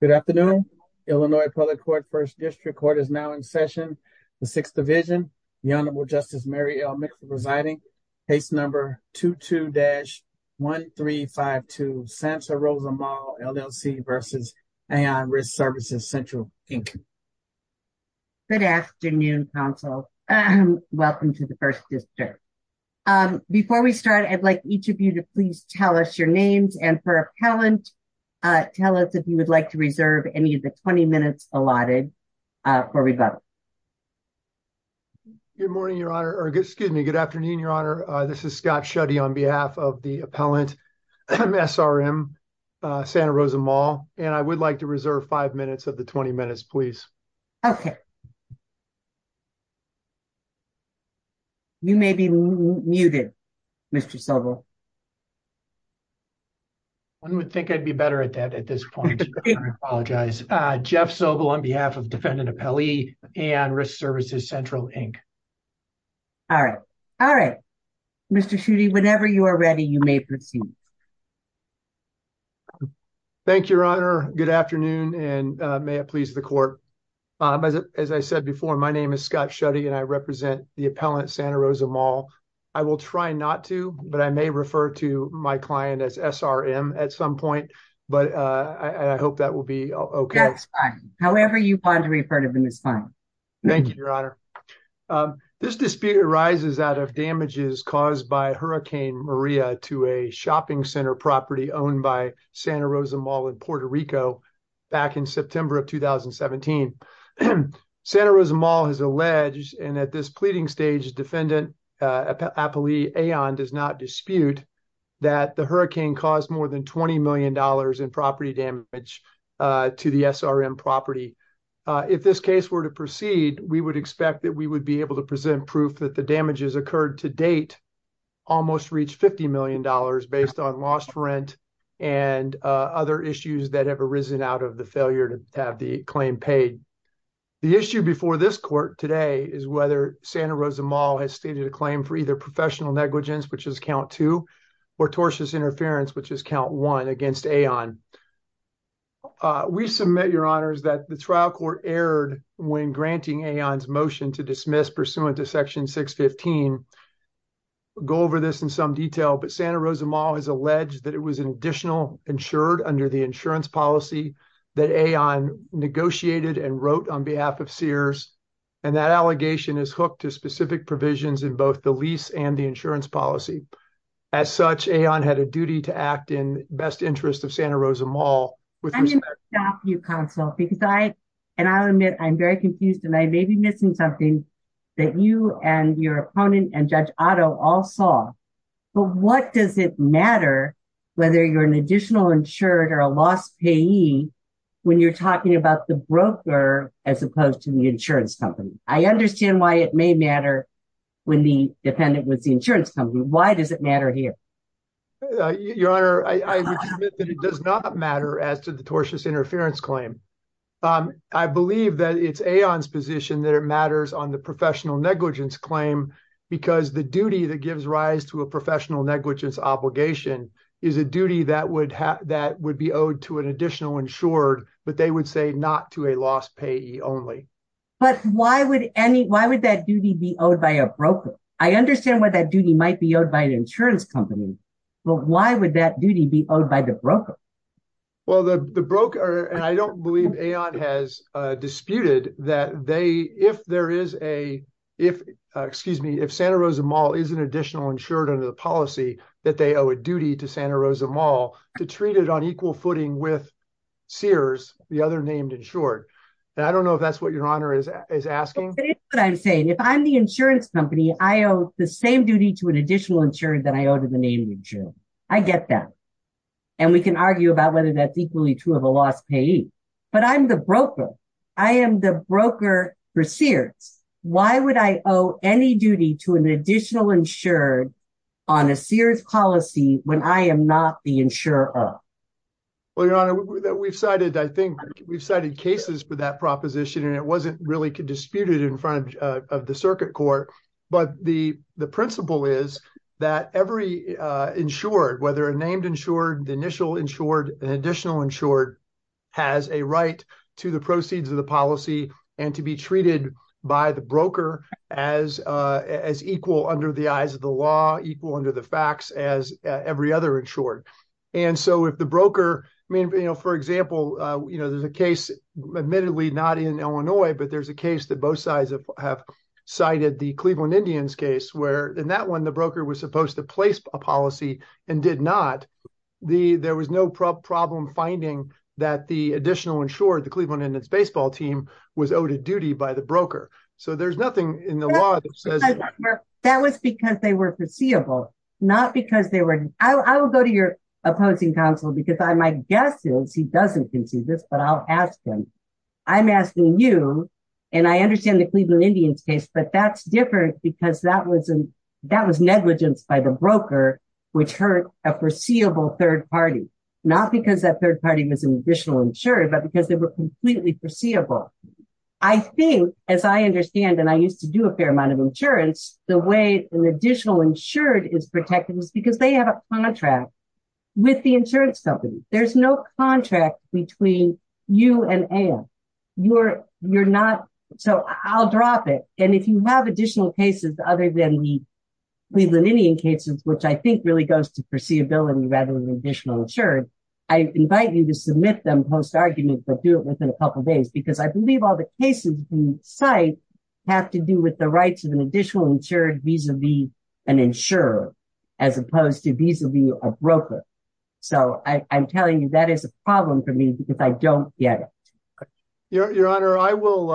Good afternoon. Illinois Public Court First District Court is now in session. The Sixth Division, the Honorable Justice Mary L. Mixer presiding, case number 22-1352, SAMHSA Rosa Mall, LLC v. Aon Risk Services Central, Inc. Good afternoon, counsel. Welcome to the First District. Before we start, I'd like each of you to please tell us your names and for appellant, tell us if you would like to reserve any of the 20 minutes allotted for rebuttal. Good afternoon, Your Honor. This is Scott Schutte on behalf of the appellant, SRM, Santa Rosa Mall, and I would like to reserve five minutes of the 20 minutes, please. Okay. You may be muted, Mr. Sobel. One would think I'd be better at that at this point. I apologize. Jeff Sobel on behalf of defendant appellee, Aon Risk Services Central, Inc. All right. All right. Mr. Schutte, whenever you are ready, you may proceed. Thank you, Your Honor. Good afternoon, and may it please the court. As I said before, my name is Scott Schutte, and I represent the appellant, Santa Rosa Mall. I will try not to, but I may refer to my client as SRM at some point, but I hope that will be okay. That's fine. However you plan to refer to him is fine. Thank you, Your Honor. This dispute arises out of damages caused by Hurricane Maria to a shopping center property owned by Santa Rosa Mall in Puerto Rico back in September of 2017. Santa Rosa Mall has alleged, and at this pleading stage defendant appellee, Aon, does not dispute that the hurricane caused more than $20 million in property damage to the SRM property. If this case were to proceed, we would expect that we would be able to present proof that the damages occurred to date almost reached $50 million based on lost rent and other issues that have arisen out of the failure to have the claim paid. The issue before this court today is whether Santa Rosa Mall has stated a claim for either professional negligence, which is count two, or tortious when granting Aon's motion to dismiss pursuant to section 615. Go over this in some detail, but Santa Rosa Mall has alleged that it was an additional insured under the insurance policy that Aon negotiated and wrote on behalf of Sears, and that allegation is hooked to specific provisions in both the lease and the insurance policy. As such, Aon had a duty to act in best interest of Santa Rosa Mall. I'm going to stop you, counsel, because I, and I'll admit, I'm very confused, and I may be missing something that you and your opponent and Judge Otto all saw. But what does it matter whether you're an additional insured or a lost payee when you're talking about the broker as opposed to the insurance company? I understand why it may matter when the defendant was the insurance company. Why does it matter here? Your Honor, I would submit that it does not matter as to the tortious interference claim. I believe that it's Aon's position that it matters on the professional negligence claim because the duty that gives rise to a professional negligence obligation is a duty that would have, that would be owed to an additional insured, but they would say not to a lost payee only. But why would any, why would that duty be owed by a broker? I understand why that duty might be owed by an insurance company, but why would that duty be owed by the broker? Well, the broker, and I don't believe Aon has disputed that they, if there is a, if, excuse me, if Santa Rosa Mall is an additional insured under the policy, that they owe a duty to Santa Rosa Mall to treat it on equal footing with Sears, the other named insured. And I don't know if that's what Your Honor is asking. But it's what I'm saying. If I'm the insurance company, I owe the same duty to an additional insured that I owe to the named insured. I get that. And we can argue about whether that's equally true of a lost payee, but I'm the broker. I am the broker for Sears. Why would I owe any duty to an additional insured on a Sears policy when I am not the insurer? Well, Your Honor, we've cited, I think we've cited cases for that proposition and it wasn't really disputed in front of the circuit court. But the principle is that every insured, whether a named insured, the initial insured, an additional insured, has a right to the proceeds of the policy and to be treated by the broker as equal under the eyes of the law, equal under the facts as every other insured. And so if the broker, I mean, you know, for example, you know, admittedly not in Illinois, but there's a case that both sides have cited the Cleveland Indians case where in that one, the broker was supposed to place a policy and did not. There was no problem finding that the additional insured, the Cleveland Indians baseball team, was owed a duty by the broker. So there's nothing in the law that says that. That was because they were foreseeable, not because they were... I will go to your opposing counsel because I might guess he doesn't see this, but I'll ask him. I'm asking you, and I understand the Cleveland Indians case, but that's different because that was negligence by the broker, which hurt a foreseeable third party, not because that third party was an additional insured, but because they were completely foreseeable. I think, as I understand, and I used to do a fair amount of insurance, the way an additional insured is protected is because they have a contract with the insurance company. There's no contract between you and Ann. You're not... So I'll drop it. And if you have additional cases other than the Cleveland Indian cases, which I think really goes to foreseeability rather than additional insured, I invite you to submit them post-argument, but do it within a couple of days, because I believe all the cases you cite have to do with the rights of an additional insured vis-a-vis an insurer as opposed to vis-a-vis a broker. So I'm telling you that is a problem for me because I don't get it. Your Honor, I will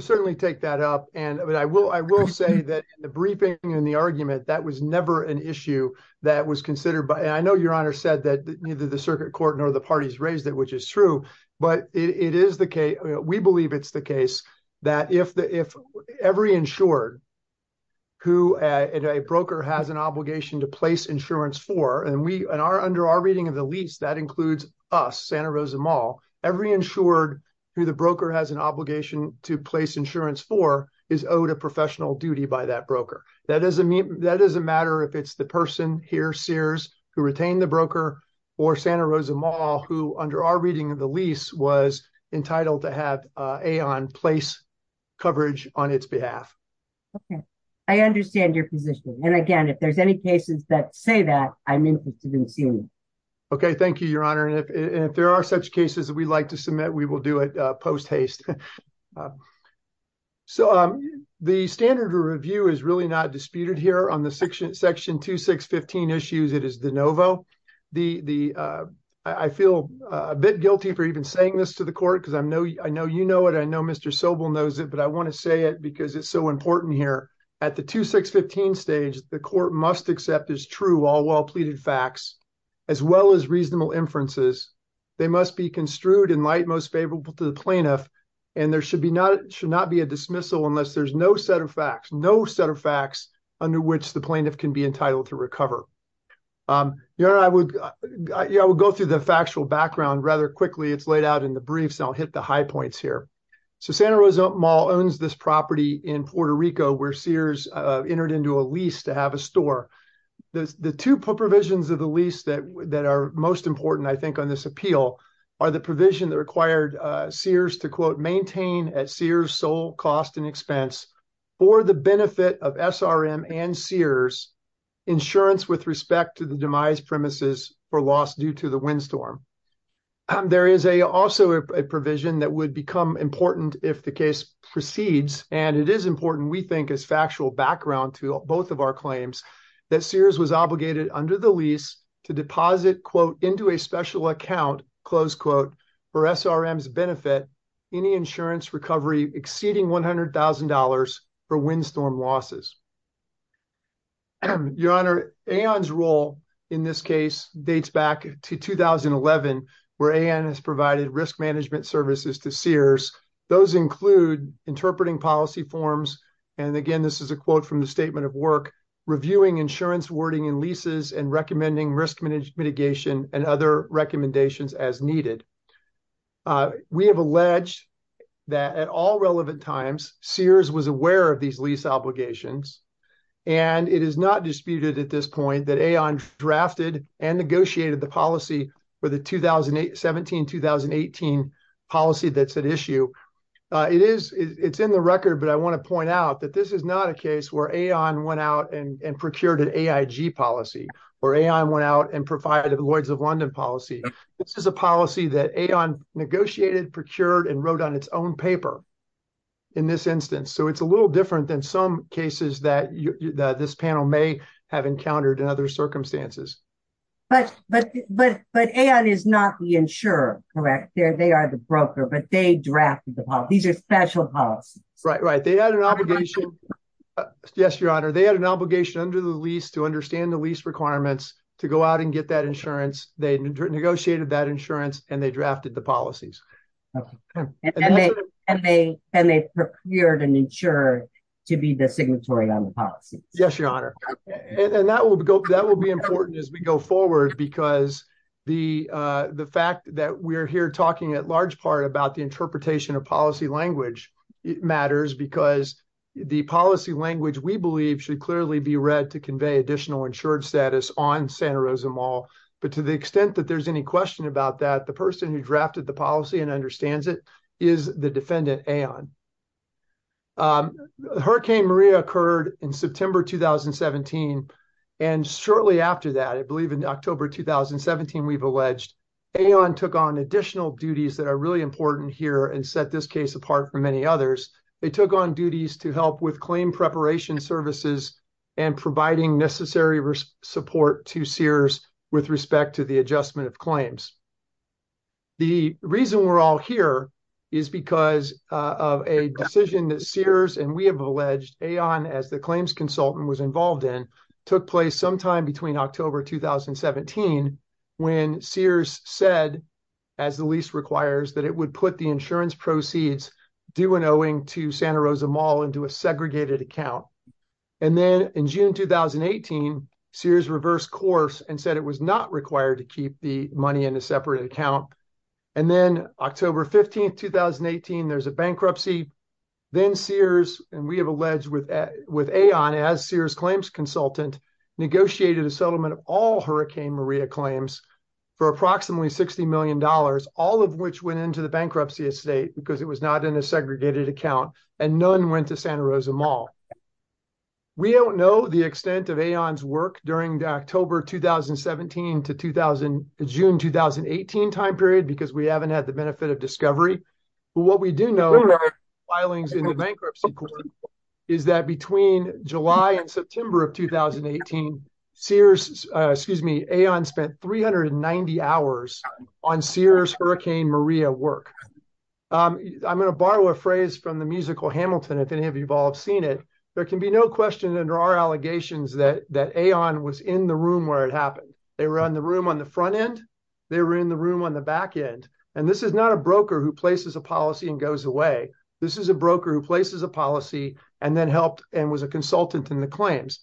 certainly take that up, and I will say that the briefing and the argument, that was never an issue that was considered by... I know Your Honor said that neither the circuit court nor the parties raised it, which is true, but it is the case. We believe it's the case that if every insured who a broker has an obligation to place insurance for, and under our reading of the lease, that includes us, Santa Rosa Mall, every insured who the broker has an obligation to place insurance for is owed a professional duty by that broker. That doesn't matter if it's the person here, Sears, who retained the broker or Santa Rosa Mall, who under our reading of the lease was entitled to have AON place coverage on its behalf. Okay. I understand your position. And again, if there's any cases that say that, I'm interested in seeing them. Okay. Thank you, Your Honor. And if there are such cases that we'd like to submit, we will do it post-haste. So the standard of review is really not disputed here on the Section 2615 issues. It is de novo. The, I feel a bit guilty for even saying this to the court, because I know you know it, I know Mr. Sobel knows it, but I want to say it because it's so important here. At the 2615 stage, the court must accept as true all well pleaded facts, as well as reasonable inferences. They must be construed in light most favorable to the plaintiff. And there should not be a dismissal unless there's no set of facts, no set of facts under which the plaintiff can be entitled to recover. Your Honor, I would go through the factual background rather quickly. It's laid out in the briefs, and I'll hit the high points here. So Santa Rosa Mall owns this property in Puerto Rico where Sears entered into a lease to have a store. The two provisions of the lease that are most important, I think, on this appeal are the provision that required Sears to quote maintain at Sears sole cost and expense for the benefit of SRM and Sears insurance with respect to the demise premises for loss due to the windstorm. There is a also a provision that would become important if the case proceeds, and it is important, we think, as factual background to both of our claims that Sears was obligated under the any insurance recovery exceeding $100,000 for windstorm losses. Your Honor, AON's role in this case dates back to 2011 where AON has provided risk management services to Sears. Those include interpreting policy forms, and again this is a quote from the statement of work, reviewing insurance wording in leases and recommending risk mitigation and other recommendations as needed. We have alleged that at all relevant times Sears was aware of these lease obligations, and it is not disputed at this point that AON drafted and negotiated the policy for the 2017-2018 policy that's at issue. It's in the record, but I want to point out that this is not a case where AON went out and procured an AIG policy or AI went out and provided the Lloyd's of London policy. This is a policy that AON negotiated, procured, and wrote on its own paper in this instance, so it's a little different than some cases that this panel may have encountered in other circumstances. But AON is not the insurer, correct? They are the broker, but they drafted the policy. These are special policies. Right, right. They had an obligation, yes your honor, they had an obligation under the lease to understand the lease requirements to go out and get that insurance. They negotiated that insurance and they drafted the policies. And they procured and insured to be the signatory on the policy. Yes your honor, and that will be important as we go forward because the fact that we're here at large part about the interpretation of policy language matters because the policy language we believe should clearly be read to convey additional insured status on Santa Rosa Mall. But to the extent that there's any question about that, the person who drafted the policy and understands it is the defendant AON. Hurricane Maria occurred in September 2017 and shortly after that, I believe in October 2017, we've alleged AON took on additional duties that are really important here and set this case apart from many others. They took on duties to help with claim preparation services and providing necessary support to Sears with respect to the adjustment of claims. The reason we're all here is because of a decision that Sears and we have October 2017 when Sears said as the lease requires that it would put the insurance proceeds due and owing to Santa Rosa Mall into a segregated account. And then in June 2018, Sears reversed course and said it was not required to keep the money in a separate account. And then October 15, 2018, there's a bankruptcy. Then Sears and we have alleged with AON as Sears consultant negotiated a settlement of all Hurricane Maria claims for approximately $60 million, all of which went into the bankruptcy estate because it was not in a segregated account and none went to Santa Rosa Mall. We don't know the extent of AON's work during the October 2017 to June 2018 time period because we haven't had the benefit of discovery. But what we do know is that between July and September of 2018, AON spent 390 hours on Sears Hurricane Maria work. I'm going to borrow a phrase from the musical Hamilton if any of you have all seen it. There can be no question under our allegations that AON was in the room where it happened. They were in the room on the front end. They were in the room on the back end. This is not a broker who places a policy and goes away. This is a broker who places a policy and then helped and was a consultant in the claims.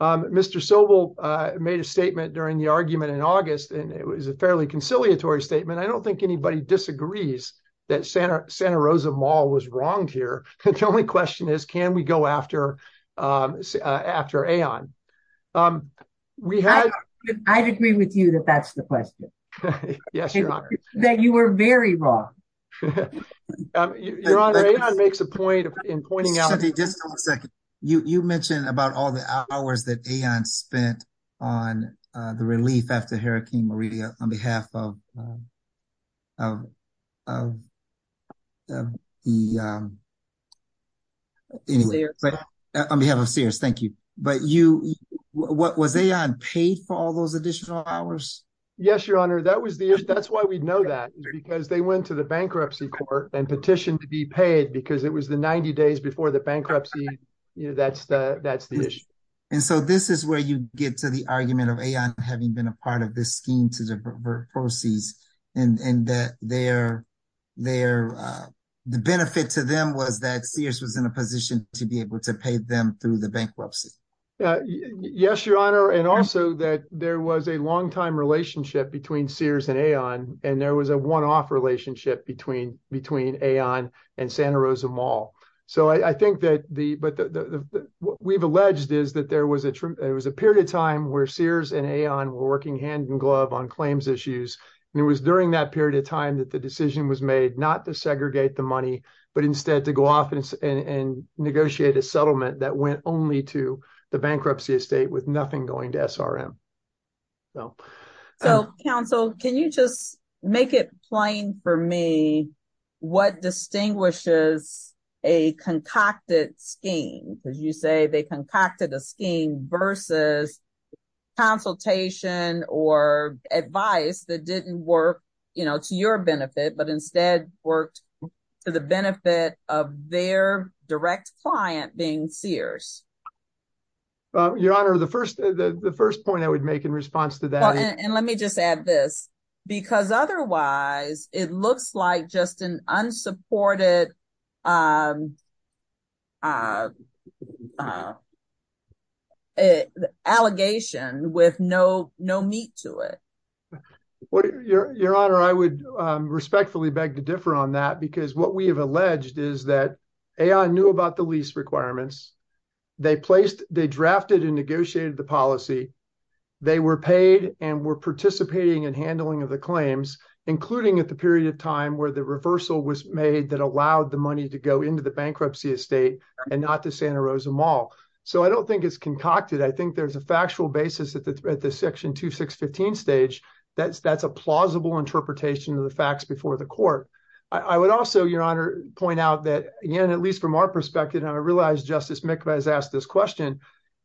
Mr. Sobel made a statement during the argument in August and it was a fairly conciliatory statement. I don't think anybody disagrees that Santa Rosa Mall was wronged here. The only question is, can we go after AON? I'd agree with you that that's the question. Yes, Your Honor. That you were very wrong. Your Honor, AON makes a point in pointing out- Cindy, just a second. You mentioned about all the hours that AON spent on the relief after what was AON paid for all those additional hours? Yes, Your Honor. That's why we know that because they went to the bankruptcy court and petitioned to be paid because it was the 90 days before the bankruptcy. That's the issue. And so this is where you get to the argument of AON having been a part of this scheme to the proceeds and the benefit to them was that Sears was in a position to be able to pay them through the bankruptcy. Yes, Your Honor. And also that there was a longtime relationship between Sears and AON and there was a one-off relationship between AON and Santa Rosa Mall. So I think that we've alleged is that there was a period of time where Sears and AON were working hand in glove on claims issues. And it was during that period of time that the decision was made not to segregate the money, but instead to go off and negotiate a settlement that went only to the bankruptcy estate with nothing going to SRM. So counsel, can you just make it plain for me what distinguishes a concocted scheme? Because you say they concocted a scheme versus consultation or advice that didn't work to your benefit, but instead worked for the benefit of their direct client being Sears. Your Honor, the first point I would make in response to that. And let me just add this because otherwise it looks like just an unsupported allegation with no meat to it. Your Honor, I would respectfully beg to differ on that because what we have alleged is that AON knew about the lease requirements. They placed, they drafted and negotiated the policy. They were paid and were participating in handling of the claims, including at the period of time where the reversal was made that allowed the to go into the bankruptcy estate and not to Santa Rosa Mall. So I don't think it's concocted. I think there's a factual basis at the section 2615 stage. That's a plausible interpretation of the facts before the court. I would also, Your Honor, point out that, again, at least from our perspective, and I realize Justice Mikva has asked this question,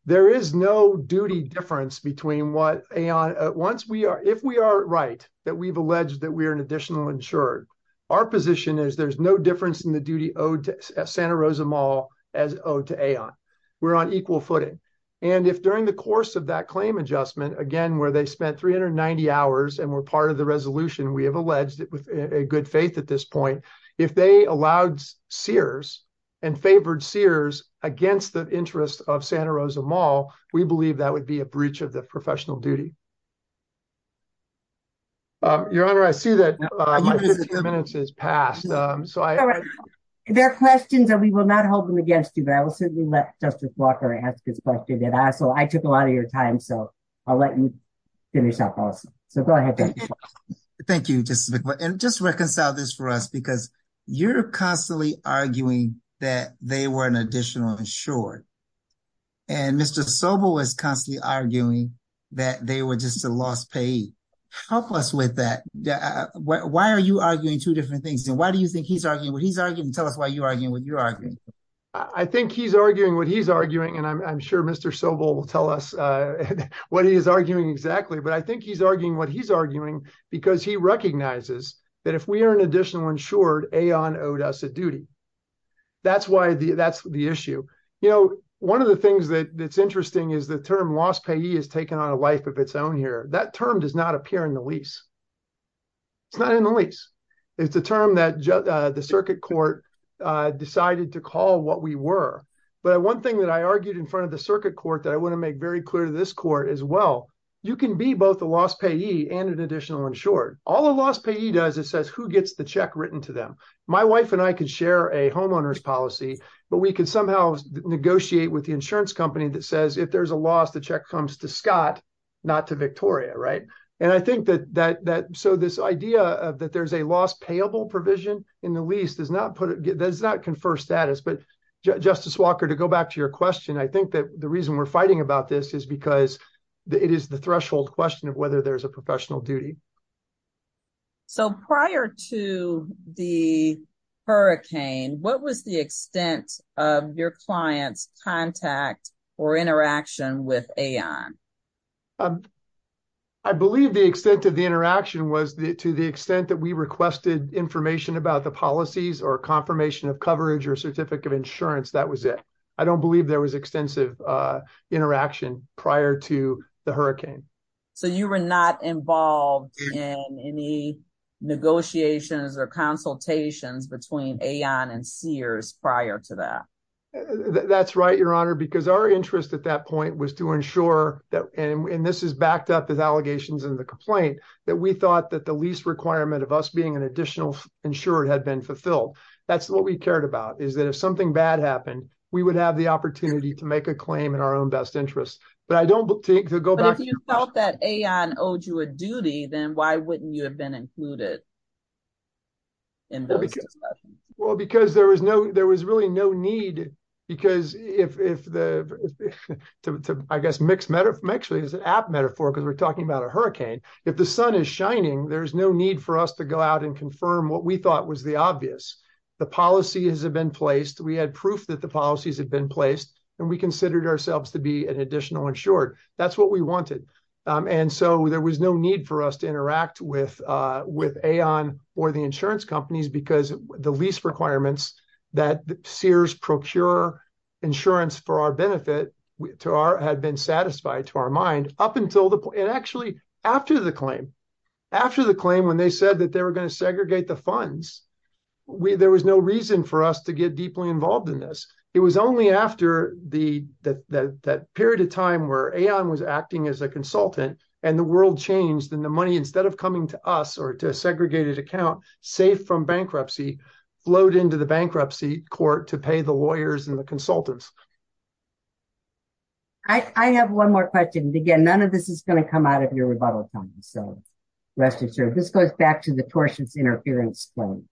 there is no duty difference between what AON, once we are, if we are right that we've alleged that we are an additional insured, our position is there's no difference in the duty owed to Santa Rosa Mall as owed to AON. We're on equal footing. And if during the course of that claim adjustment, again, where they spent 390 hours and were part of the resolution, we have alleged it with a good faith at this point, if they allowed Sears and favored Sears against the interest of Santa Rosa Mall, we believe that would be a breach of the professional duty. Your Honor, I see that my 15 minutes has passed. There are questions and we will not hold them against you, but I will certainly let Justice Walker ask this question. And also, I took a lot of your time, so I'll let you finish up also. So go ahead, Justice Walker. Thank you, Justice Mikva. And just reconcile this for us, because you're constantly arguing that they were an additional insured. And Mr. Sobel is constantly arguing that they were just a lost payee. Help us with that. Why are you arguing two different things? And why do you think he's arguing what he's arguing? Tell us why you're arguing what you're arguing. I think he's arguing what he's arguing. And I'm sure Mr. Sobel will tell us what he is arguing exactly. But I think he's arguing what he's arguing because he recognizes that if we are an additional insured, Aon owed us a duty. That's the issue. One of the things that's interesting is the term lost payee has taken on a life of its own here. That term does not appear in the lease. It's not in the lease. It's a term that the circuit court decided to call what we were. But one thing that I argued in front of the circuit court that I want to make very clear to this court as well, you can be both a lost payee and an additional insured. All a lost payee does, it says who gets the check written to them. My wife and I could share a homeowner's policy, but we could somehow negotiate with the insurance company that says if there's a loss, the check comes to Scott, not to Victoria. Right. And I think that that that so this idea of that there's a lost payable provision in the lease does not put it does not confer status. But Justice Walker, to go back to your question, I think that the reason we're fighting about this is because it is the threshold question of whether there's a professional duty. So prior to the hurricane, what was the extent of your client's contact or interaction with Aon? I believe the extent of the interaction was to the extent that we requested information about the policies or confirmation of coverage or certificate of insurance. That was it. I don't believe there was extensive interaction prior to the hurricane. So you were not involved in any negotiations or consultations between Aon and Sears prior to that? That's right, Your Honor, because our interest at that point was to ensure that and this is backed up with allegations in the complaint that we thought that the lease requirement of us being an additional insured had been fulfilled. That's what we cared about, is that if something bad happened, we would have the opportunity to make a claim in our own best interest. But I don't think to go back. But if you felt that Aon owed you a duty, then why wouldn't you have been included in those discussions? Well, because there was no, there was really no need, because if the, I guess, mixed metaphor, actually it's an apt metaphor because we're talking about a hurricane. If the sun is shining, there's no need for us to go out and confirm what we thought was the obvious. The policy has been placed, we had proof that the policies had been placed, and we considered ourselves to be an additional insured. That's what we wanted. And so there was no need for us to interact with Aon or the insurance companies because the lease requirements that Sears procure insurance for our benefit had been satisfied to our mind up until the point, and actually after the claim. After the claim, when they said that they were going to segregate the funds, there was no reason for us to get deeply involved in this. It was only after that period of time where Aon was acting as a consultant, and the world changed, and the money, instead of coming to us or to a segregated account, safe from bankruptcy, flowed into the bankruptcy court to pay the lawyers and the consultants. I have one more question. Again, none of this is going to come out of your rebuttal comments, so rest assured. This goes back to the tortious interference claim.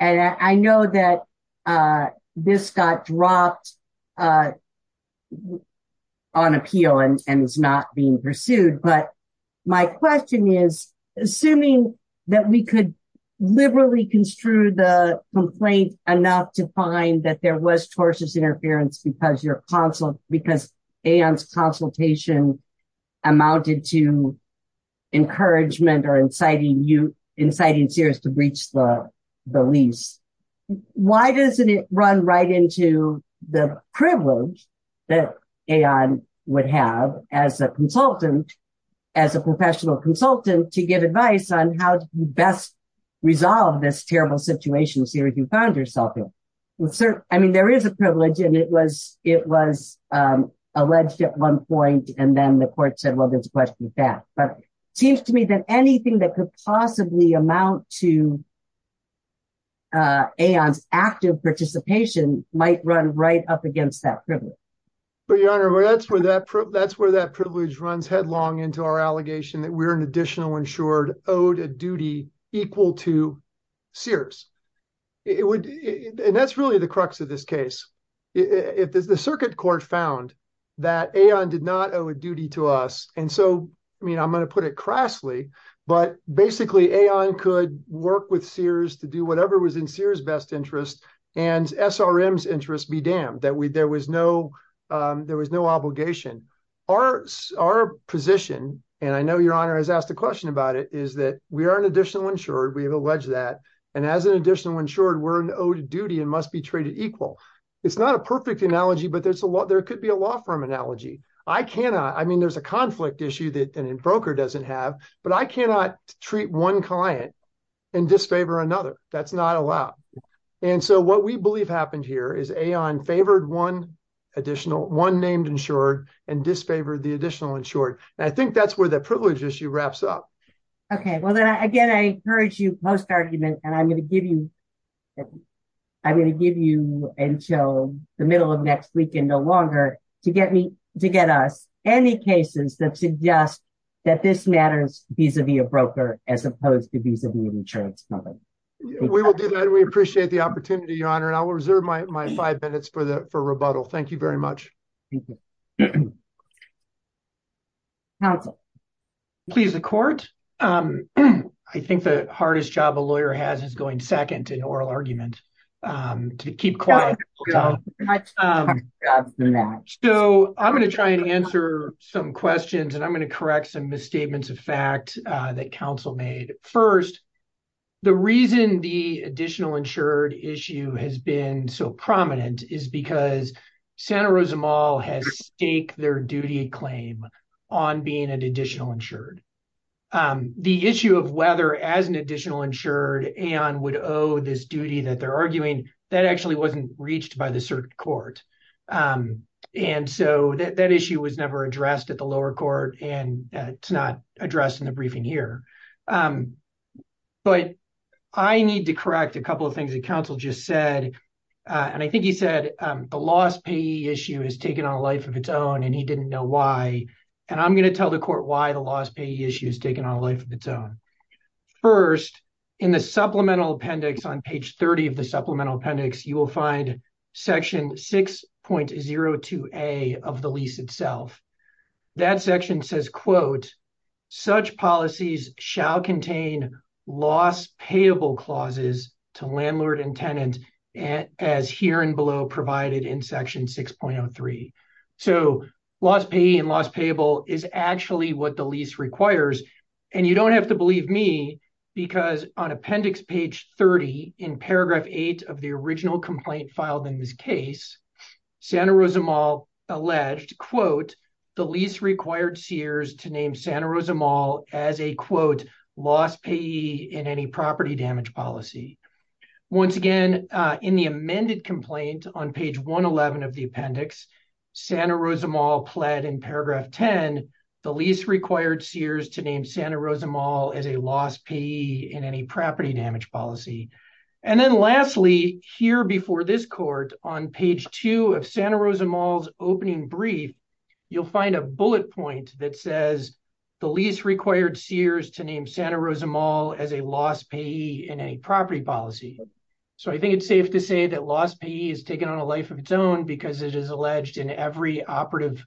And I know that this got dropped on appeal and is not being pursued, but my question is, assuming that we could liberally construe the complaint enough to find that there was tortuous interference because Aon's consultation amounted to encouragement or inciting Sears to breach the lease, why doesn't it run right into the privilege that Aon would have as a consultant, as a professional consultant, to give advice on how to best resolve this terrible situation Sears found herself in? I mean, there is a privilege, and it was alleged at one point, and then the court said, well, there's a question of that. But it seems to me that anything that could possibly amount to Aon's active participation might run right up against that privilege. That's where that privilege runs headlong into our allegation that we're an additional insured, owed a duty equal to Sears. And that's really the crux of this case. The circuit court found that Aon did not owe a duty to us. And so, I mean, I'm going to put it crassly, but basically Aon could work with Sears to do whatever was in Sears' best interest and SRM's interest be damned, that there was no obligation. Our position, and I know your has asked a question about it, is that we are an additional insured. We have alleged that. And as an additional insured, we're an owed duty and must be traded equal. It's not a perfect analogy, but there could be a law firm analogy. I cannot, I mean, there's a conflict issue that a broker doesn't have, but I cannot treat one client and disfavor another. That's not allowed. And so what we believe happened here is Aon favored one additional, one named insured, and disfavored the additional insured. And I think that's where the privilege issue wraps up. Okay. Well then again, I encourage you post-argument, and I'm going to give you until the middle of next weekend or longer to get us any cases that suggest that this matters vis-a-vis a broker, as opposed to vis-a-vis an insurance company. We will do that. We appreciate the opportunity, Your Honor. And I will reserve my five minutes for rebuttal. Thank you very much. Counsel. Please, the court. I think the hardest job a lawyer has is going second in oral argument, to keep quiet. So I'm going to try and answer some questions, and I'm going to correct some misstatements of fact that counsel made. First, the reason the additional insured issue has been so prominent is because Santa Rosa Mall has staked their duty claim on being an additional insured. The issue of whether as an additional insured Aon would owe this duty that they're arguing, that actually wasn't reached by the circuit court. And so that issue was never addressed at the lower court, and it's not addressed in the briefing here. But I need to correct a couple things that counsel just said. And I think he said the loss payee issue has taken on a life of its own, and he didn't know why. And I'm going to tell the court why the loss payee issue has taken on a life of its own. First, in the supplemental appendix on page 30 of the supplemental appendix, you will find section 6.02A of the lease itself. That section says, quote, such policies shall contain loss payable clauses to landlord and tenant as here and below provided in section 6.03. So loss payee and loss payable is actually what the lease requires. And you don't have to believe me, because on appendix page 30 in paragraph 8 of the original complaint filed in his case, Santa Rosa Mall alleged, quote, the lease required Sears to name Santa Rosa Mall as a, quote, loss payee in any property damage policy. Once again, in the amended complaint on page 111 of the appendix, Santa Rosa Mall pled in paragraph 10, the lease required Sears to name Santa Rosa Mall as a loss payee in any property damage policy. And then lastly, here before this court, on page 2 of Santa Rosa Mall's opening brief, you'll find a bullet point that says the lease required Sears to name Santa Rosa Mall as a loss payee in a property policy. So I think it's safe to say that loss payee has taken on a life of its own because it is alleged in every operative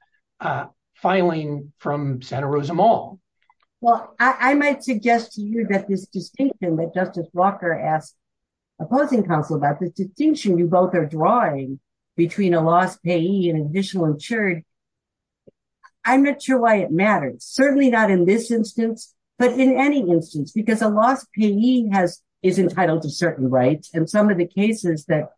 filing from Santa Rosa Mall. Well, I might suggest to you that this distinction that Justice Walker asked opposing counsel about, this distinction you both are drawing between a loss payee and additional insured, I'm not sure why it matters. Certainly not in this instance, but in any instance, because a loss payee is entitled to certain rights. And some of the cases that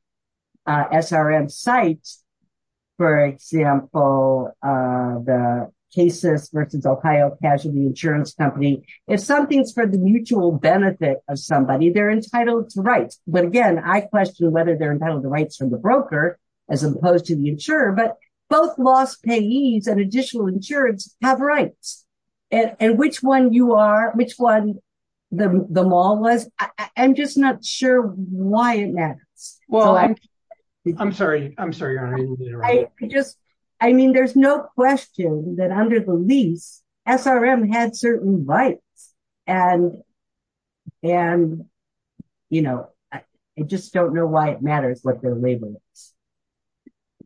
for example, the cases versus Ohio Casualty Insurance Company, if something's for the mutual benefit of somebody, they're entitled to rights. But again, I question whether they're entitled to rights from the broker, as opposed to the insurer, but both loss payees and additional insurance have rights. And which one you are, which one the mall was, I'm just not sure why it just, I mean, there's no question that under the lease, SRM had certain rights. And, and, you know, I just don't know why it matters what their label is.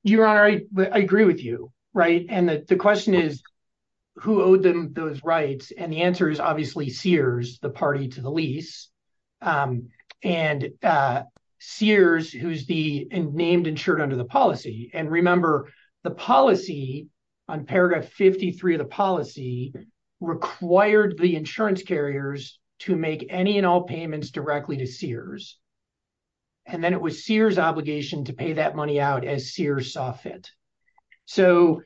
Your Honor, I agree with you. Right. And the question is, who owed them those rights? And the answer is obviously Sears, the party to the lease. And Sears, who's the named insured under the policy. And remember the policy on paragraph 53 of the policy required the insurance carriers to make any and all payments directly to Sears. And then it was Sears obligation to pay that money out as Sears saw fit. So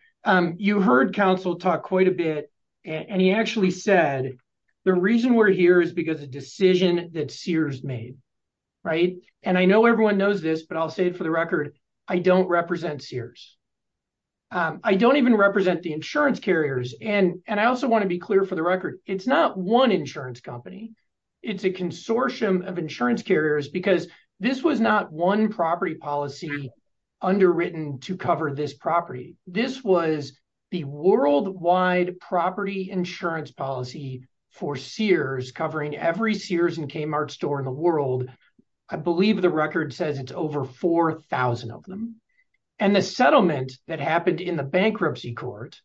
you heard counsel talk quite a bit, and he actually said, the reason we're here is because a decision that Sears made. Right. And I know everyone knows this, but I'll say it for the record. I don't represent Sears. I don't even represent the insurance carriers. And, and I also want to be clear for the record. It's not one insurance company. It's a consortium of insurance carriers because this was not one property policy underwritten to cover this property. This was the worldwide property insurance policy for Sears covering every Sears and Kmart store in the world. I believe the record says it's over 4,000 of them. And the settlement that happened in the bankruptcy court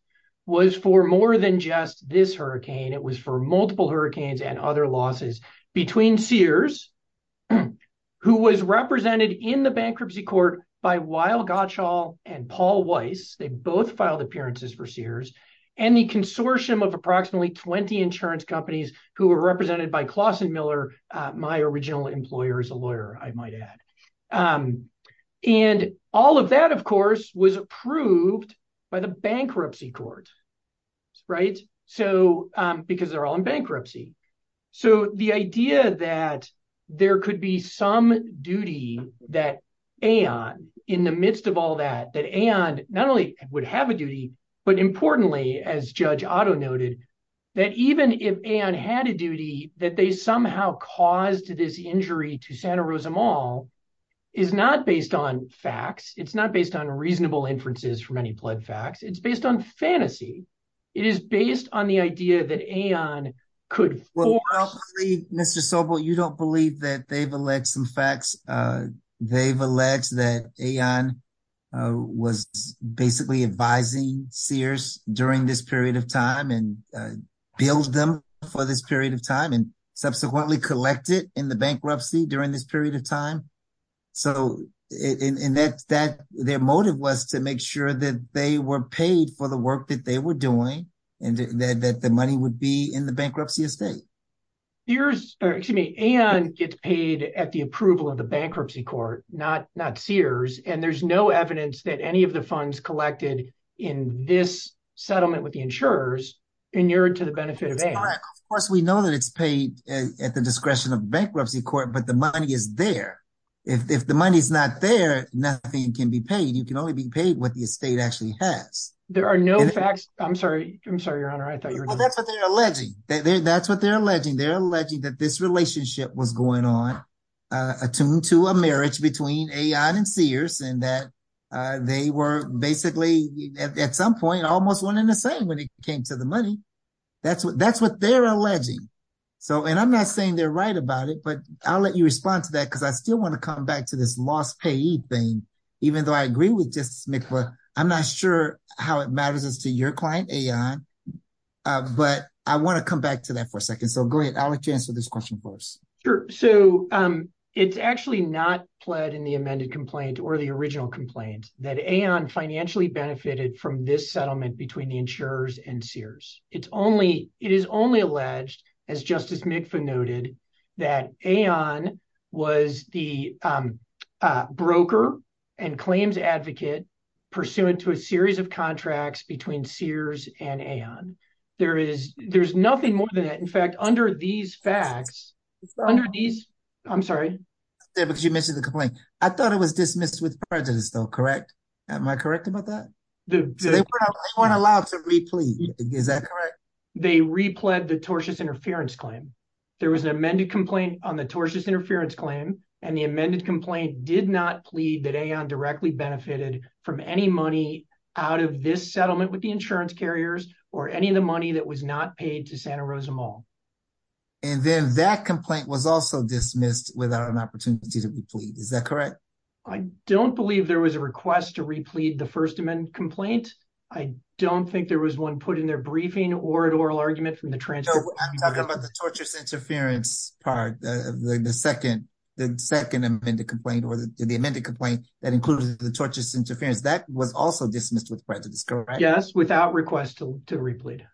was for more than just this hurricane. It was for multiple hurricanes and other losses between Sears, who was represented in the bankruptcy court by Weil Gottschall and Paul Weiss. They both filed appearances for Sears and the consortium of approximately 20 insurance companies who were represented by Clausen Miller, my original employer as a lawyer, I might add. And all of that, of course, was approved by the bankruptcy court. Right. So because they're all in bankruptcy. So the idea that there could be some duty that Aon in the midst of all that, that Aon not only would have a duty, but importantly, as Judge Otto noted, that even if Aon had a duty, that they somehow caused this injury to Santa Rosa Mall is not based on facts. It's not based on reasonable inferences from any plot facts. It's based on fantasy. It is based on the idea that Aon could. Mr. Sobel, you don't have to go into the details, but there's some facts. They've alleged that Aon was basically advising Sears during this period of time and billed them for this period of time and subsequently collected in the bankruptcy during this period of time. So in that their motive was to make sure that they were paid for the work that they were doing and that the money would be in the bankruptcy estate. Sears, excuse me, Aon gets paid at the approval of the bankruptcy court, not Sears. And there's no evidence that any of the funds collected in this settlement with the insurers inured to the benefit of Aon. Of course, we know that it's paid at the discretion of bankruptcy court, but the money is there. If the money is not there, nothing can be paid. You can only be paid what the estate actually has. There are no facts. I'm sorry. I'm sorry, Your Honor. I thought that's what they're alleging. That's what they're alleging. They're alleging that this relationship was going on attuned to a marriage between Aon and Sears and that they were basically, at some point, almost one in the same when it came to the money. That's what they're alleging. So, and I'm not saying they're right about it, but I'll let you respond to that because I still want to come back to this lost payee thing, even though I agree with Justice McAvoy. I'm not sure how it matters as to your client, Aon, but I want to come back to that for a second. So, go ahead. I'll let you answer this question first. Sure. So, it's actually not pled in the amended complaint or the original complaint that Aon financially benefited from this settlement between the insurers and Sears. It is only alleged, as Justice McAvoy noted, that Aon was the between Sears and Aon. There is, there's nothing more than that. In fact, under these facts, under these, I'm sorry. Yeah, because you mentioned the complaint. I thought it was dismissed with prejudice though, correct? Am I correct about that? They weren't allowed to re-plead. Is that correct? They re-pled the tortious interference claim. There was an amended complaint on the tortious interference claim and the amended complaint did not plead that Aon directly benefited from any money out of this settlement with the insurance carriers or any of the money that was not paid to Santa Rosa Mall. And then that complaint was also dismissed without an opportunity to re-plead. Is that correct? I don't believe there was a request to re-plead the first amendment complaint. I don't think there was one put in their briefing or an oral argument from the transfer. I'm talking about the tortious interference part of the second amendment complaint or the amended complaint that included the tortious interference. That was also dismissed with prejudice, correct? Yes, without request to re-plead.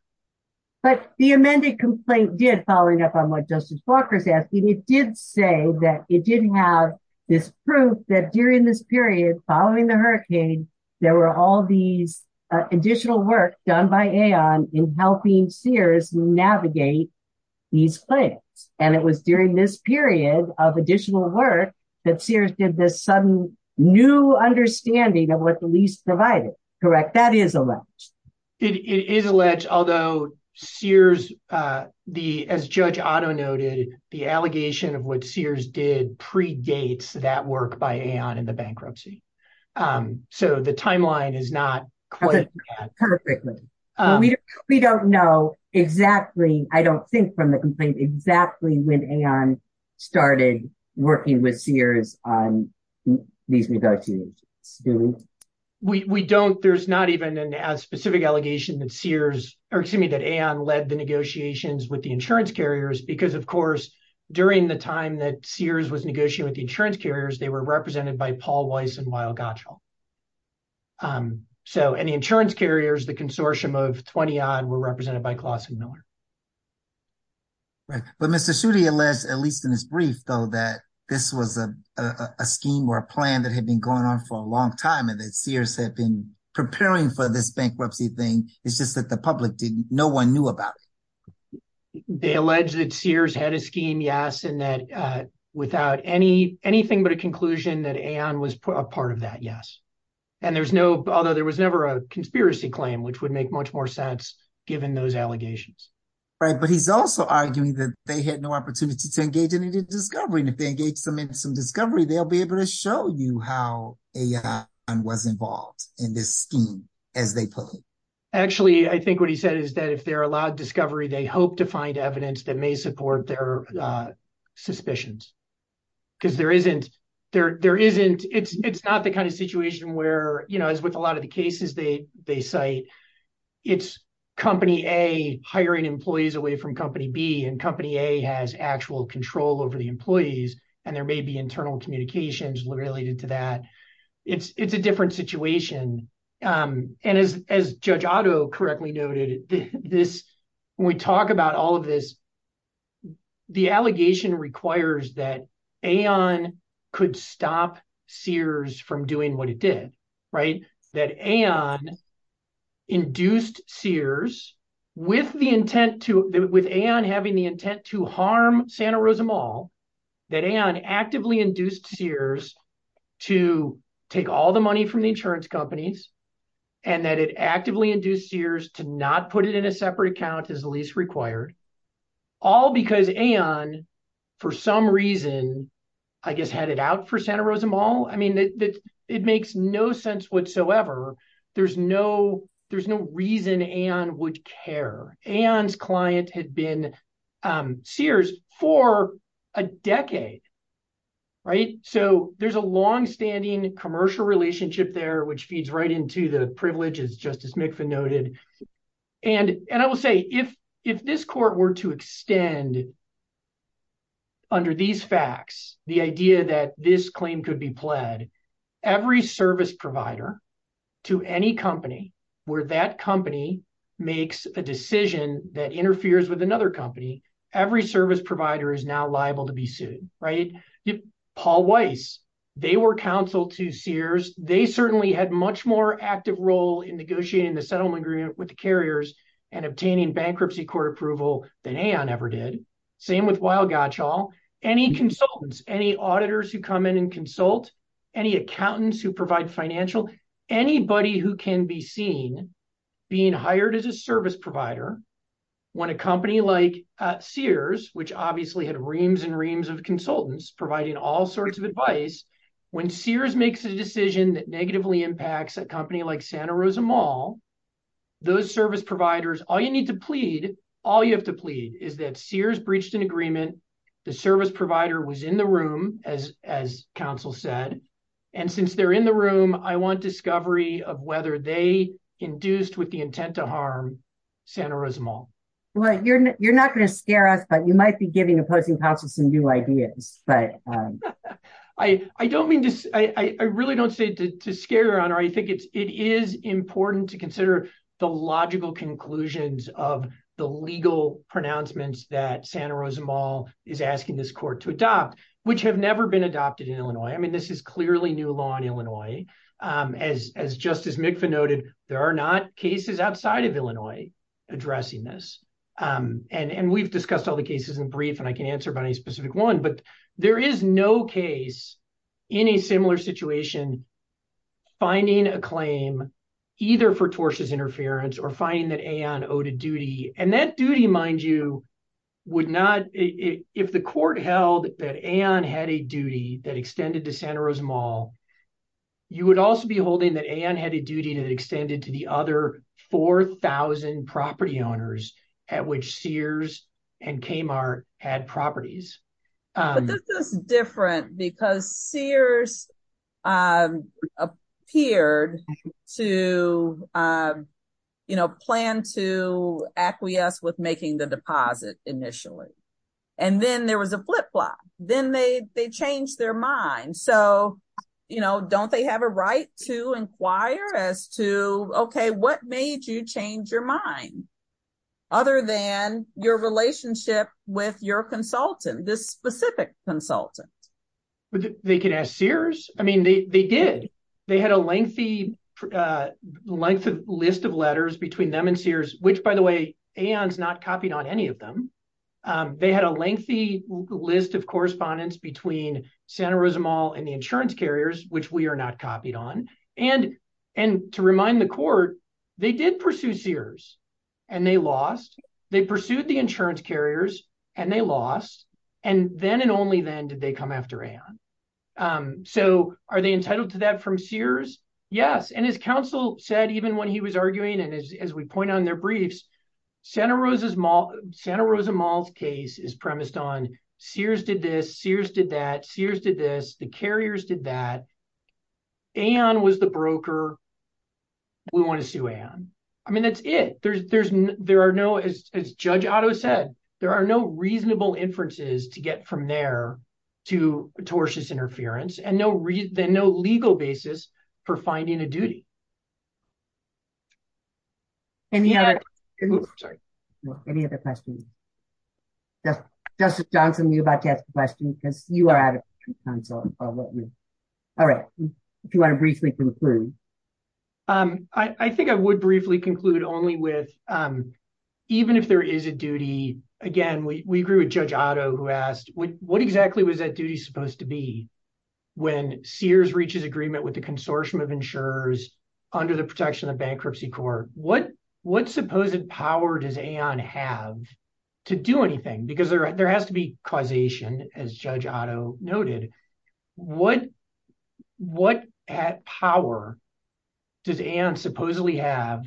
But the amended complaint did, following up on what Justice Walker's asking, it did say that it did have this proof that during this period, following the hurricane, there were all these additional work done by Aon in helping Sears navigate these claims. And it was during this period of additional work that Sears did this sudden new understanding of what the lease provided, correct? That is alleged. It is alleged, although Sears, as Judge Otto noted, the allegation of what Sears did predates that work by Aon in the bankruptcy. So the timeline is not quite... Perfectly. We don't know exactly, I don't think from the complaint, exactly when Aon started working with Sears on these negotiations, do we? We don't. There's not even a specific allegation that Sears, or excuse me, that Aon led the negotiations with the insurance carriers because, of course, during the time that Sears was negotiating with the insurance carriers, they were represented by Paul Weiss and Weill Gottschall. And the insurance carriers, the consortium of 20-odd, were represented by Klaus and Miller. Right. But Mr. Schutte alleged, at least in his brief though, that this was a scheme or a plan that had been going on for a long time and that Sears had been preparing for this bankruptcy thing. It's just that the public didn't, no one knew about it. They alleged that Sears had a conclusion that Aon was a part of that, yes. Although there was never a conspiracy claim, which would make much more sense given those allegations. Right. But he's also arguing that they had no opportunity to engage in any discovery. And if they engage them in some discovery, they'll be able to show you how Aon was involved in this scheme as they pull it. Actually, I think what he said is that if they're allowed discovery, they hope to find evidence that may support their suspicions. Because it's not the kind of situation where, as with a lot of the cases they cite, it's company A hiring employees away from company B and company A has actual control over the employees. And there may be internal communications related to that. It's a different situation. And as Judge Otto correctly noted, this, when we talk about all of this, the allegation requires that Aon could stop Sears from doing what it did, right? That Aon induced Sears with the intent to, with Aon having the intent to harm Santa Rosa Mall, that Aon actively induced Sears to take all the money from the company and not put it in a separate account as the lease required. All because Aon, for some reason, I guess, had it out for Santa Rosa Mall. I mean, it makes no sense whatsoever. There's no reason Aon would care. Aon's client had been Sears for a decade, right? So, there's a longstanding commercial relationship there, which feeds right into the privileges Justice McFinn noted. And I will say, if this court were to extend, under these facts, the idea that this claim could be pled, every service provider to any company where that company makes a decision that interferes with another company, every service provider is now liable to be sued, right? Paul Weiss, they were counsel to Sears. They certainly had much more active role in negotiating the settlement agreement with the carriers and obtaining bankruptcy court approval than Aon ever did. Same with Weill-Gottschall. Any consultants, any auditors who come in and consult, any accountants who provide financial, anybody who can be seen being hired as a service provider when a company like Sears, which obviously had reams and reams of consultants providing all when Sears makes a decision that negatively impacts a company like Santa Rosa Mall, those service providers, all you need to plead, all you have to plead is that Sears breached an agreement. The service provider was in the room, as counsel said. And since they're in the room, I want discovery of whether they induced with the intent to harm Santa Rosa Mall. Well, you're not going to scare us, but you might be giving opposing counsel some new ideas. I don't mean to, I really don't say to scare you, your honor. I think it is important to consider the logical conclusions of the legal pronouncements that Santa Rosa Mall is asking this court to adopt, which have never been adopted in Illinois. I mean, this is clearly new law in and we've discussed all the cases in brief and I can answer about any specific one, but there is no case in a similar situation, finding a claim either for tortious interference or finding that Aon owed a duty. And that duty, mind you, would not, if the court held that Aon had a duty that extended to Santa Rosa Mall, you would also be holding that Aon had a duty that extended to the other 4,000 property owners at which Sears and Kmart had properties. But this is different because Sears appeared to plan to acquiesce with making the deposit initially. And then there was a flip flop. Then they changed their mind. So don't they have a wire as to, okay, what made you change your mind other than your relationship with your consultant, this specific consultant? They could ask Sears. I mean, they did. They had a lengthy list of letters between them and Sears, which by the way, Aon's not copied on any of them. They had a lengthy list of correspondence between Santa Rosa Mall and the insurance carriers, which we are not copied on. And to remind the court, they did pursue Sears and they lost. They pursued the insurance carriers and they lost. And then and only then did they come after Aon. So are they entitled to that from Sears? Yes. And as counsel said, even when he was arguing, and as we point on their briefs, Santa Rosa Mall's case is premised on Sears did this, Sears did that, Sears did this, the carriers did that. Aon was the broker. We want to sue Aon. I mean, that's it. There are no, as Judge Otto said, there are no reasonable inferences to get from there to tortious interference and no legal basis for finding a duty. Any other questions? Justice Johnson, you were about to ask a question because you are out of counsel. All right. If you want to briefly conclude. I think I would briefly conclude only with even if there is a duty, again, we agree with Judge Otto who asked, what exactly was that duty supposed to be when Sears reaches agreement with the Consortium of Insurers under the protection of bankruptcy court? What supposed power does Aon have to do anything? Because there has to be causation as Judge Otto noted. What power does Aon supposedly have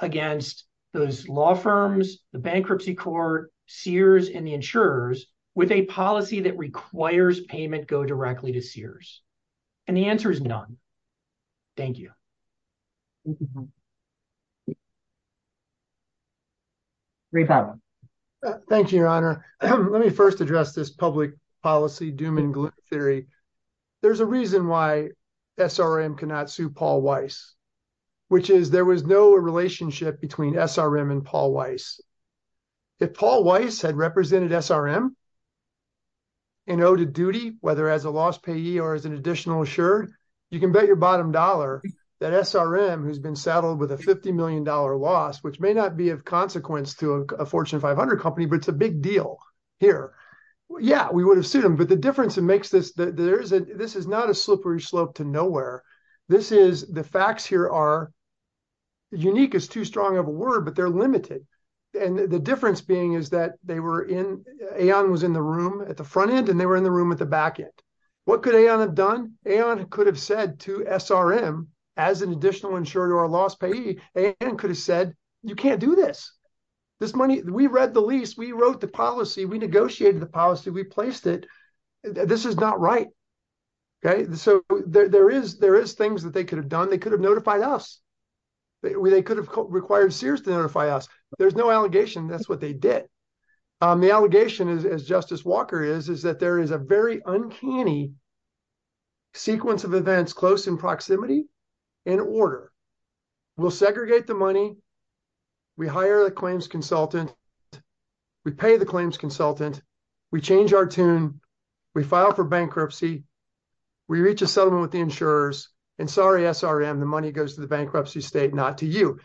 against those law firms, the bankruptcy court, Sears and the insurers with a policy that requires payment go directly to Sears? And the answer is none. Thank you. Thank you, Your Honor. Let me first address this public policy doom and gloom theory. There's a reason why SRM cannot sue Paul Weiss, which is there was no relationship between SRM and Paul Weiss. If Paul Weiss had represented SRM and owed a duty, whether as a loss payee or as an additional assured, you can bet your bottom dollar that SRM, who's been saddled with a $50 million loss, which may not be of consequence to a Fortune 500 company, but it's a big deal here. Yeah, we would have sued him. But the difference that makes this, this is not a slippery slope to and the difference being is that they were in, Aon was in the room at the front end and they were in the room at the back end. What could Aon have done? Aon could have said to SRM, as an additional insurer or loss payee, Aon could have said, you can't do this. This money, we read the lease, we wrote the policy, we negotiated the policy, we placed it. This is not right. Okay. So there is, there is things that they could have done. They could have notified us. They could have required Sears to notify us. There's no allegation. That's what they did. The allegation is, as Justice Walker is, is that there is a very uncanny sequence of events, close in proximity and order. We'll segregate the money. We hire the claims consultant. We pay the claims consultant. We change our tune. We file for bankruptcy state, not to you.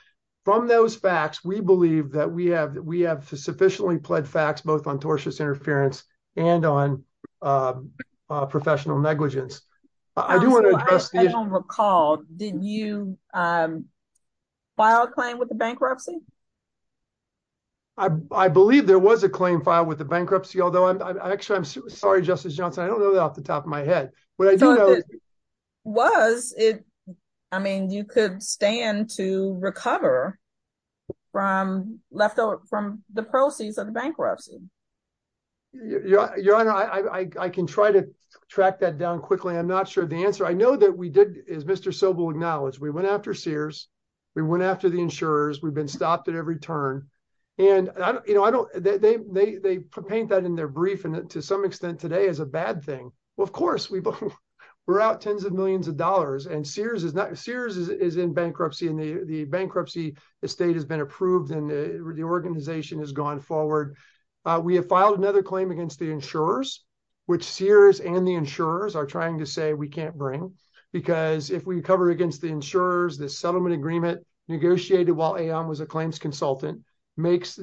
From those facts, we believe that we have, we have sufficiently pled facts, both on tortious interference and on professional negligence. I do want to address the issue. I don't recall, did you file a claim with the bankruptcy? I believe there was a claim filed with the bankruptcy, although I'm actually, I'm sorry, Justice Johnson, I don't know that off the top of my head. Was it, I mean, you could stand to recover from leftover, from the proceeds of the bankruptcy. Your Honor, I can try to track that down quickly. I'm not sure the answer. I know that we did, as Mr. Sobel acknowledged, we went after Sears. We went after the insurers. We've been stopped at every turn. And I don't, you know, I don't, they, they, they paint that in their thing. Well, of course we've, we're out tens of millions of dollars and Sears is not, Sears is in bankruptcy and the bankruptcy estate has been approved and the organization has gone forward. We have filed another claim against the insurers, which Sears and the insurers are trying to say we can't bring, because if we cover against the insurers, the settlement agreement negotiated while A.M. was a claims consultant makes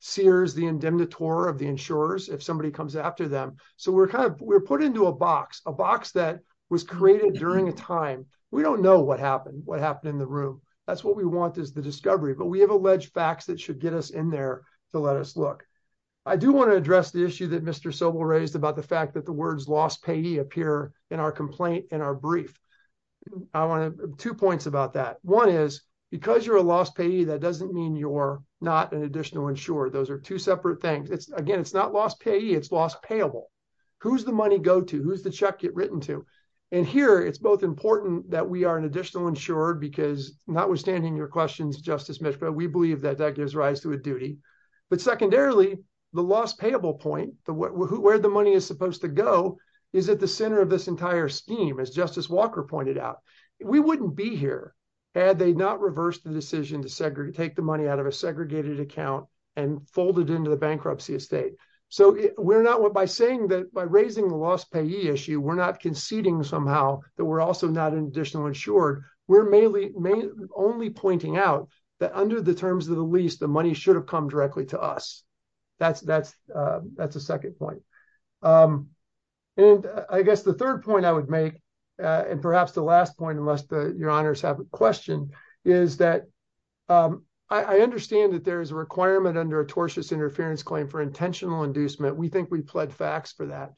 Sears the indemnitor of the insurers if somebody comes after them. So we're kind of, we're put into a box, a box that was created during a time. We don't know what happened, what happened in the room. That's what we want is the discovery, but we have alleged facts that should get us in there to let us look. I do want to address the issue that Mr. Sobel raised about the fact that the words lost payee appear in our complaint, in our brief. I want to, two points about that. One is, because you're a lost payee, that doesn't mean you're not an additional insurer. Those are two separate things. It's, again, it's not lost payee, it's lost payable. Who's the money go to? Who's the check get written to? And here, it's both important that we are an additional insurer, because notwithstanding your questions, Justice Mishko, we believe that that gives rise to a duty. But secondarily, the lost payable point, where the money is supposed to go, is at the center of this entire scheme, as Justice Walker pointed out. We wouldn't be here had they not reversed the decision to take the money out of segregated account and fold it into the bankruptcy estate. So we're not, by saying that, by raising the lost payee issue, we're not conceding somehow that we're also not an additional insured. We're mainly only pointing out that under the terms of the lease, the money should have come directly to us. That's a second point. And I guess the third point I would make, and perhaps the last point, unless your honors have a question, is that I understand that there is a requirement under a tortious interference claim for intentional inducement. We think we pled facts for that.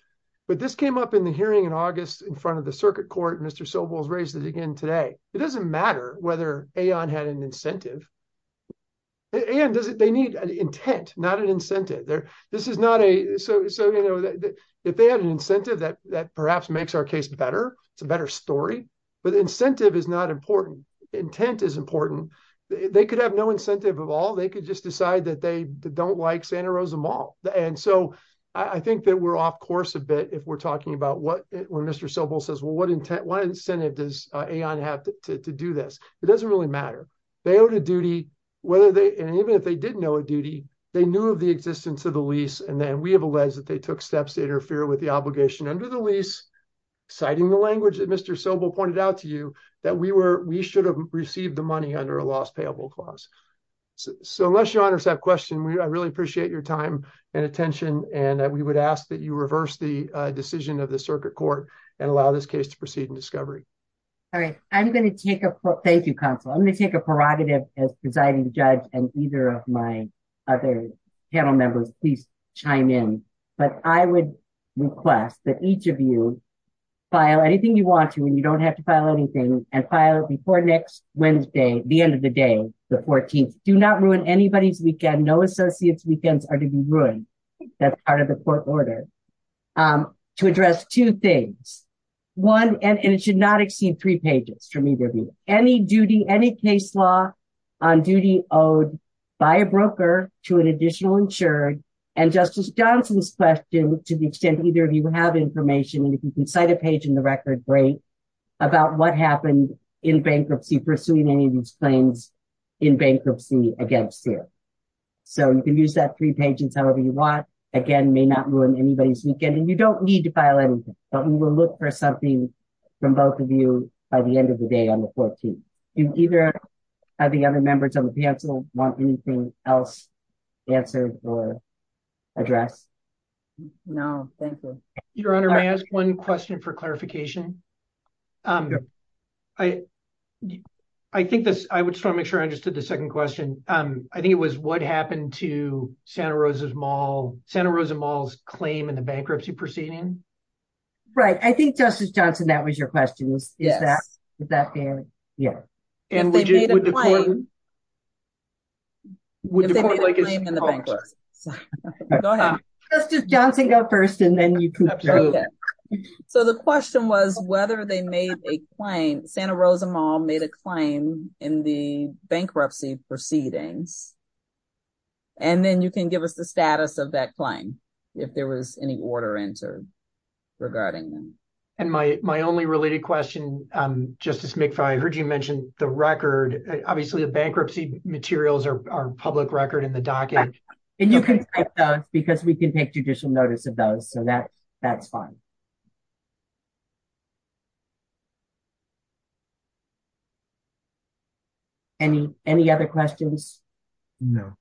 But this came up in the hearing in August in front of the circuit court. Mr. Sobel has raised it again today. It doesn't matter whether Aon had an incentive. Aon doesn't, they need an intent, not an incentive. This is not a, so, you know, if they had an incentive that perhaps makes our case better, it's a better story, but incentive is not important. Intent is important. They could have no incentive of all. They could just decide that they don't like Santa Rosa Mall. And so I think that we're off course a bit if we're talking about what, when Mr. Sobel says, well, what intent, what incentive does Aon have to do this? It doesn't really matter. They owed a duty, whether they, and even if they didn't owe a duty, they knew of the existence of the lease. And then we have alleged that they took steps to interfere with the obligation under the lease, citing the language that Mr. Sobel pointed out to you that we were, we should have received the money under a loss payable clause. So unless your honors have question, I really appreciate your time and attention. And we would ask that you reverse the decision of the circuit court and allow this case to proceed in discovery. All right. I'm going to take a, thank you, counsel. I'm going to take a prerogative as presiding judge and either of my other panel members, please chime in. But I would request that each of you file anything you want to, and you don't have to file anything and file it before next Wednesday, the end of the day, the 14th. Do not ruin anybody's weekend. No associates weekends are to be ruined. That's part of the court order. To address two things, one, and it should not by a broker to an additional insured and justice Johnson's question to the extent either of you have information. And if you can cite a page in the record, great about what happened in bankruptcy, pursuing any of these claims in bankruptcy against you. So you can use that three pages, however you want, again, may not ruin anybody's weekend and you don't need to file anything, but we will look for something from both of you by the end of the day on the 14th. And either of the other members of the council want anything else answered or address? No, thank you. Your honor, may I ask one question for clarification? I think this, I would just want to make sure I understood the second question. I think it was what happened to Santa Rosa's mall, Santa Rosa malls claim in the bankruptcy proceeding. Right. I think justice Johnson, that was your question. Is that fair? Yeah. So the question was whether they made a claim, Santa Rosa mall made a claim in the bankruptcy proceedings. And then you can give us the status of that claim. If there was any order answered regarding them. And my only related question, justice McFarland, I heard you mention the record, obviously the bankruptcy materials are public record in the docket because we can take judicial notice of those. So that that's fine. Any, any other questions? No.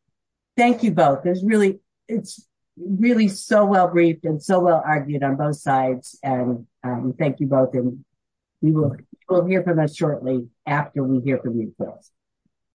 Thank you both. There's really, it's really so well briefed and so well argued on both sides. And thank you both. And we will hear from us shortly after we hear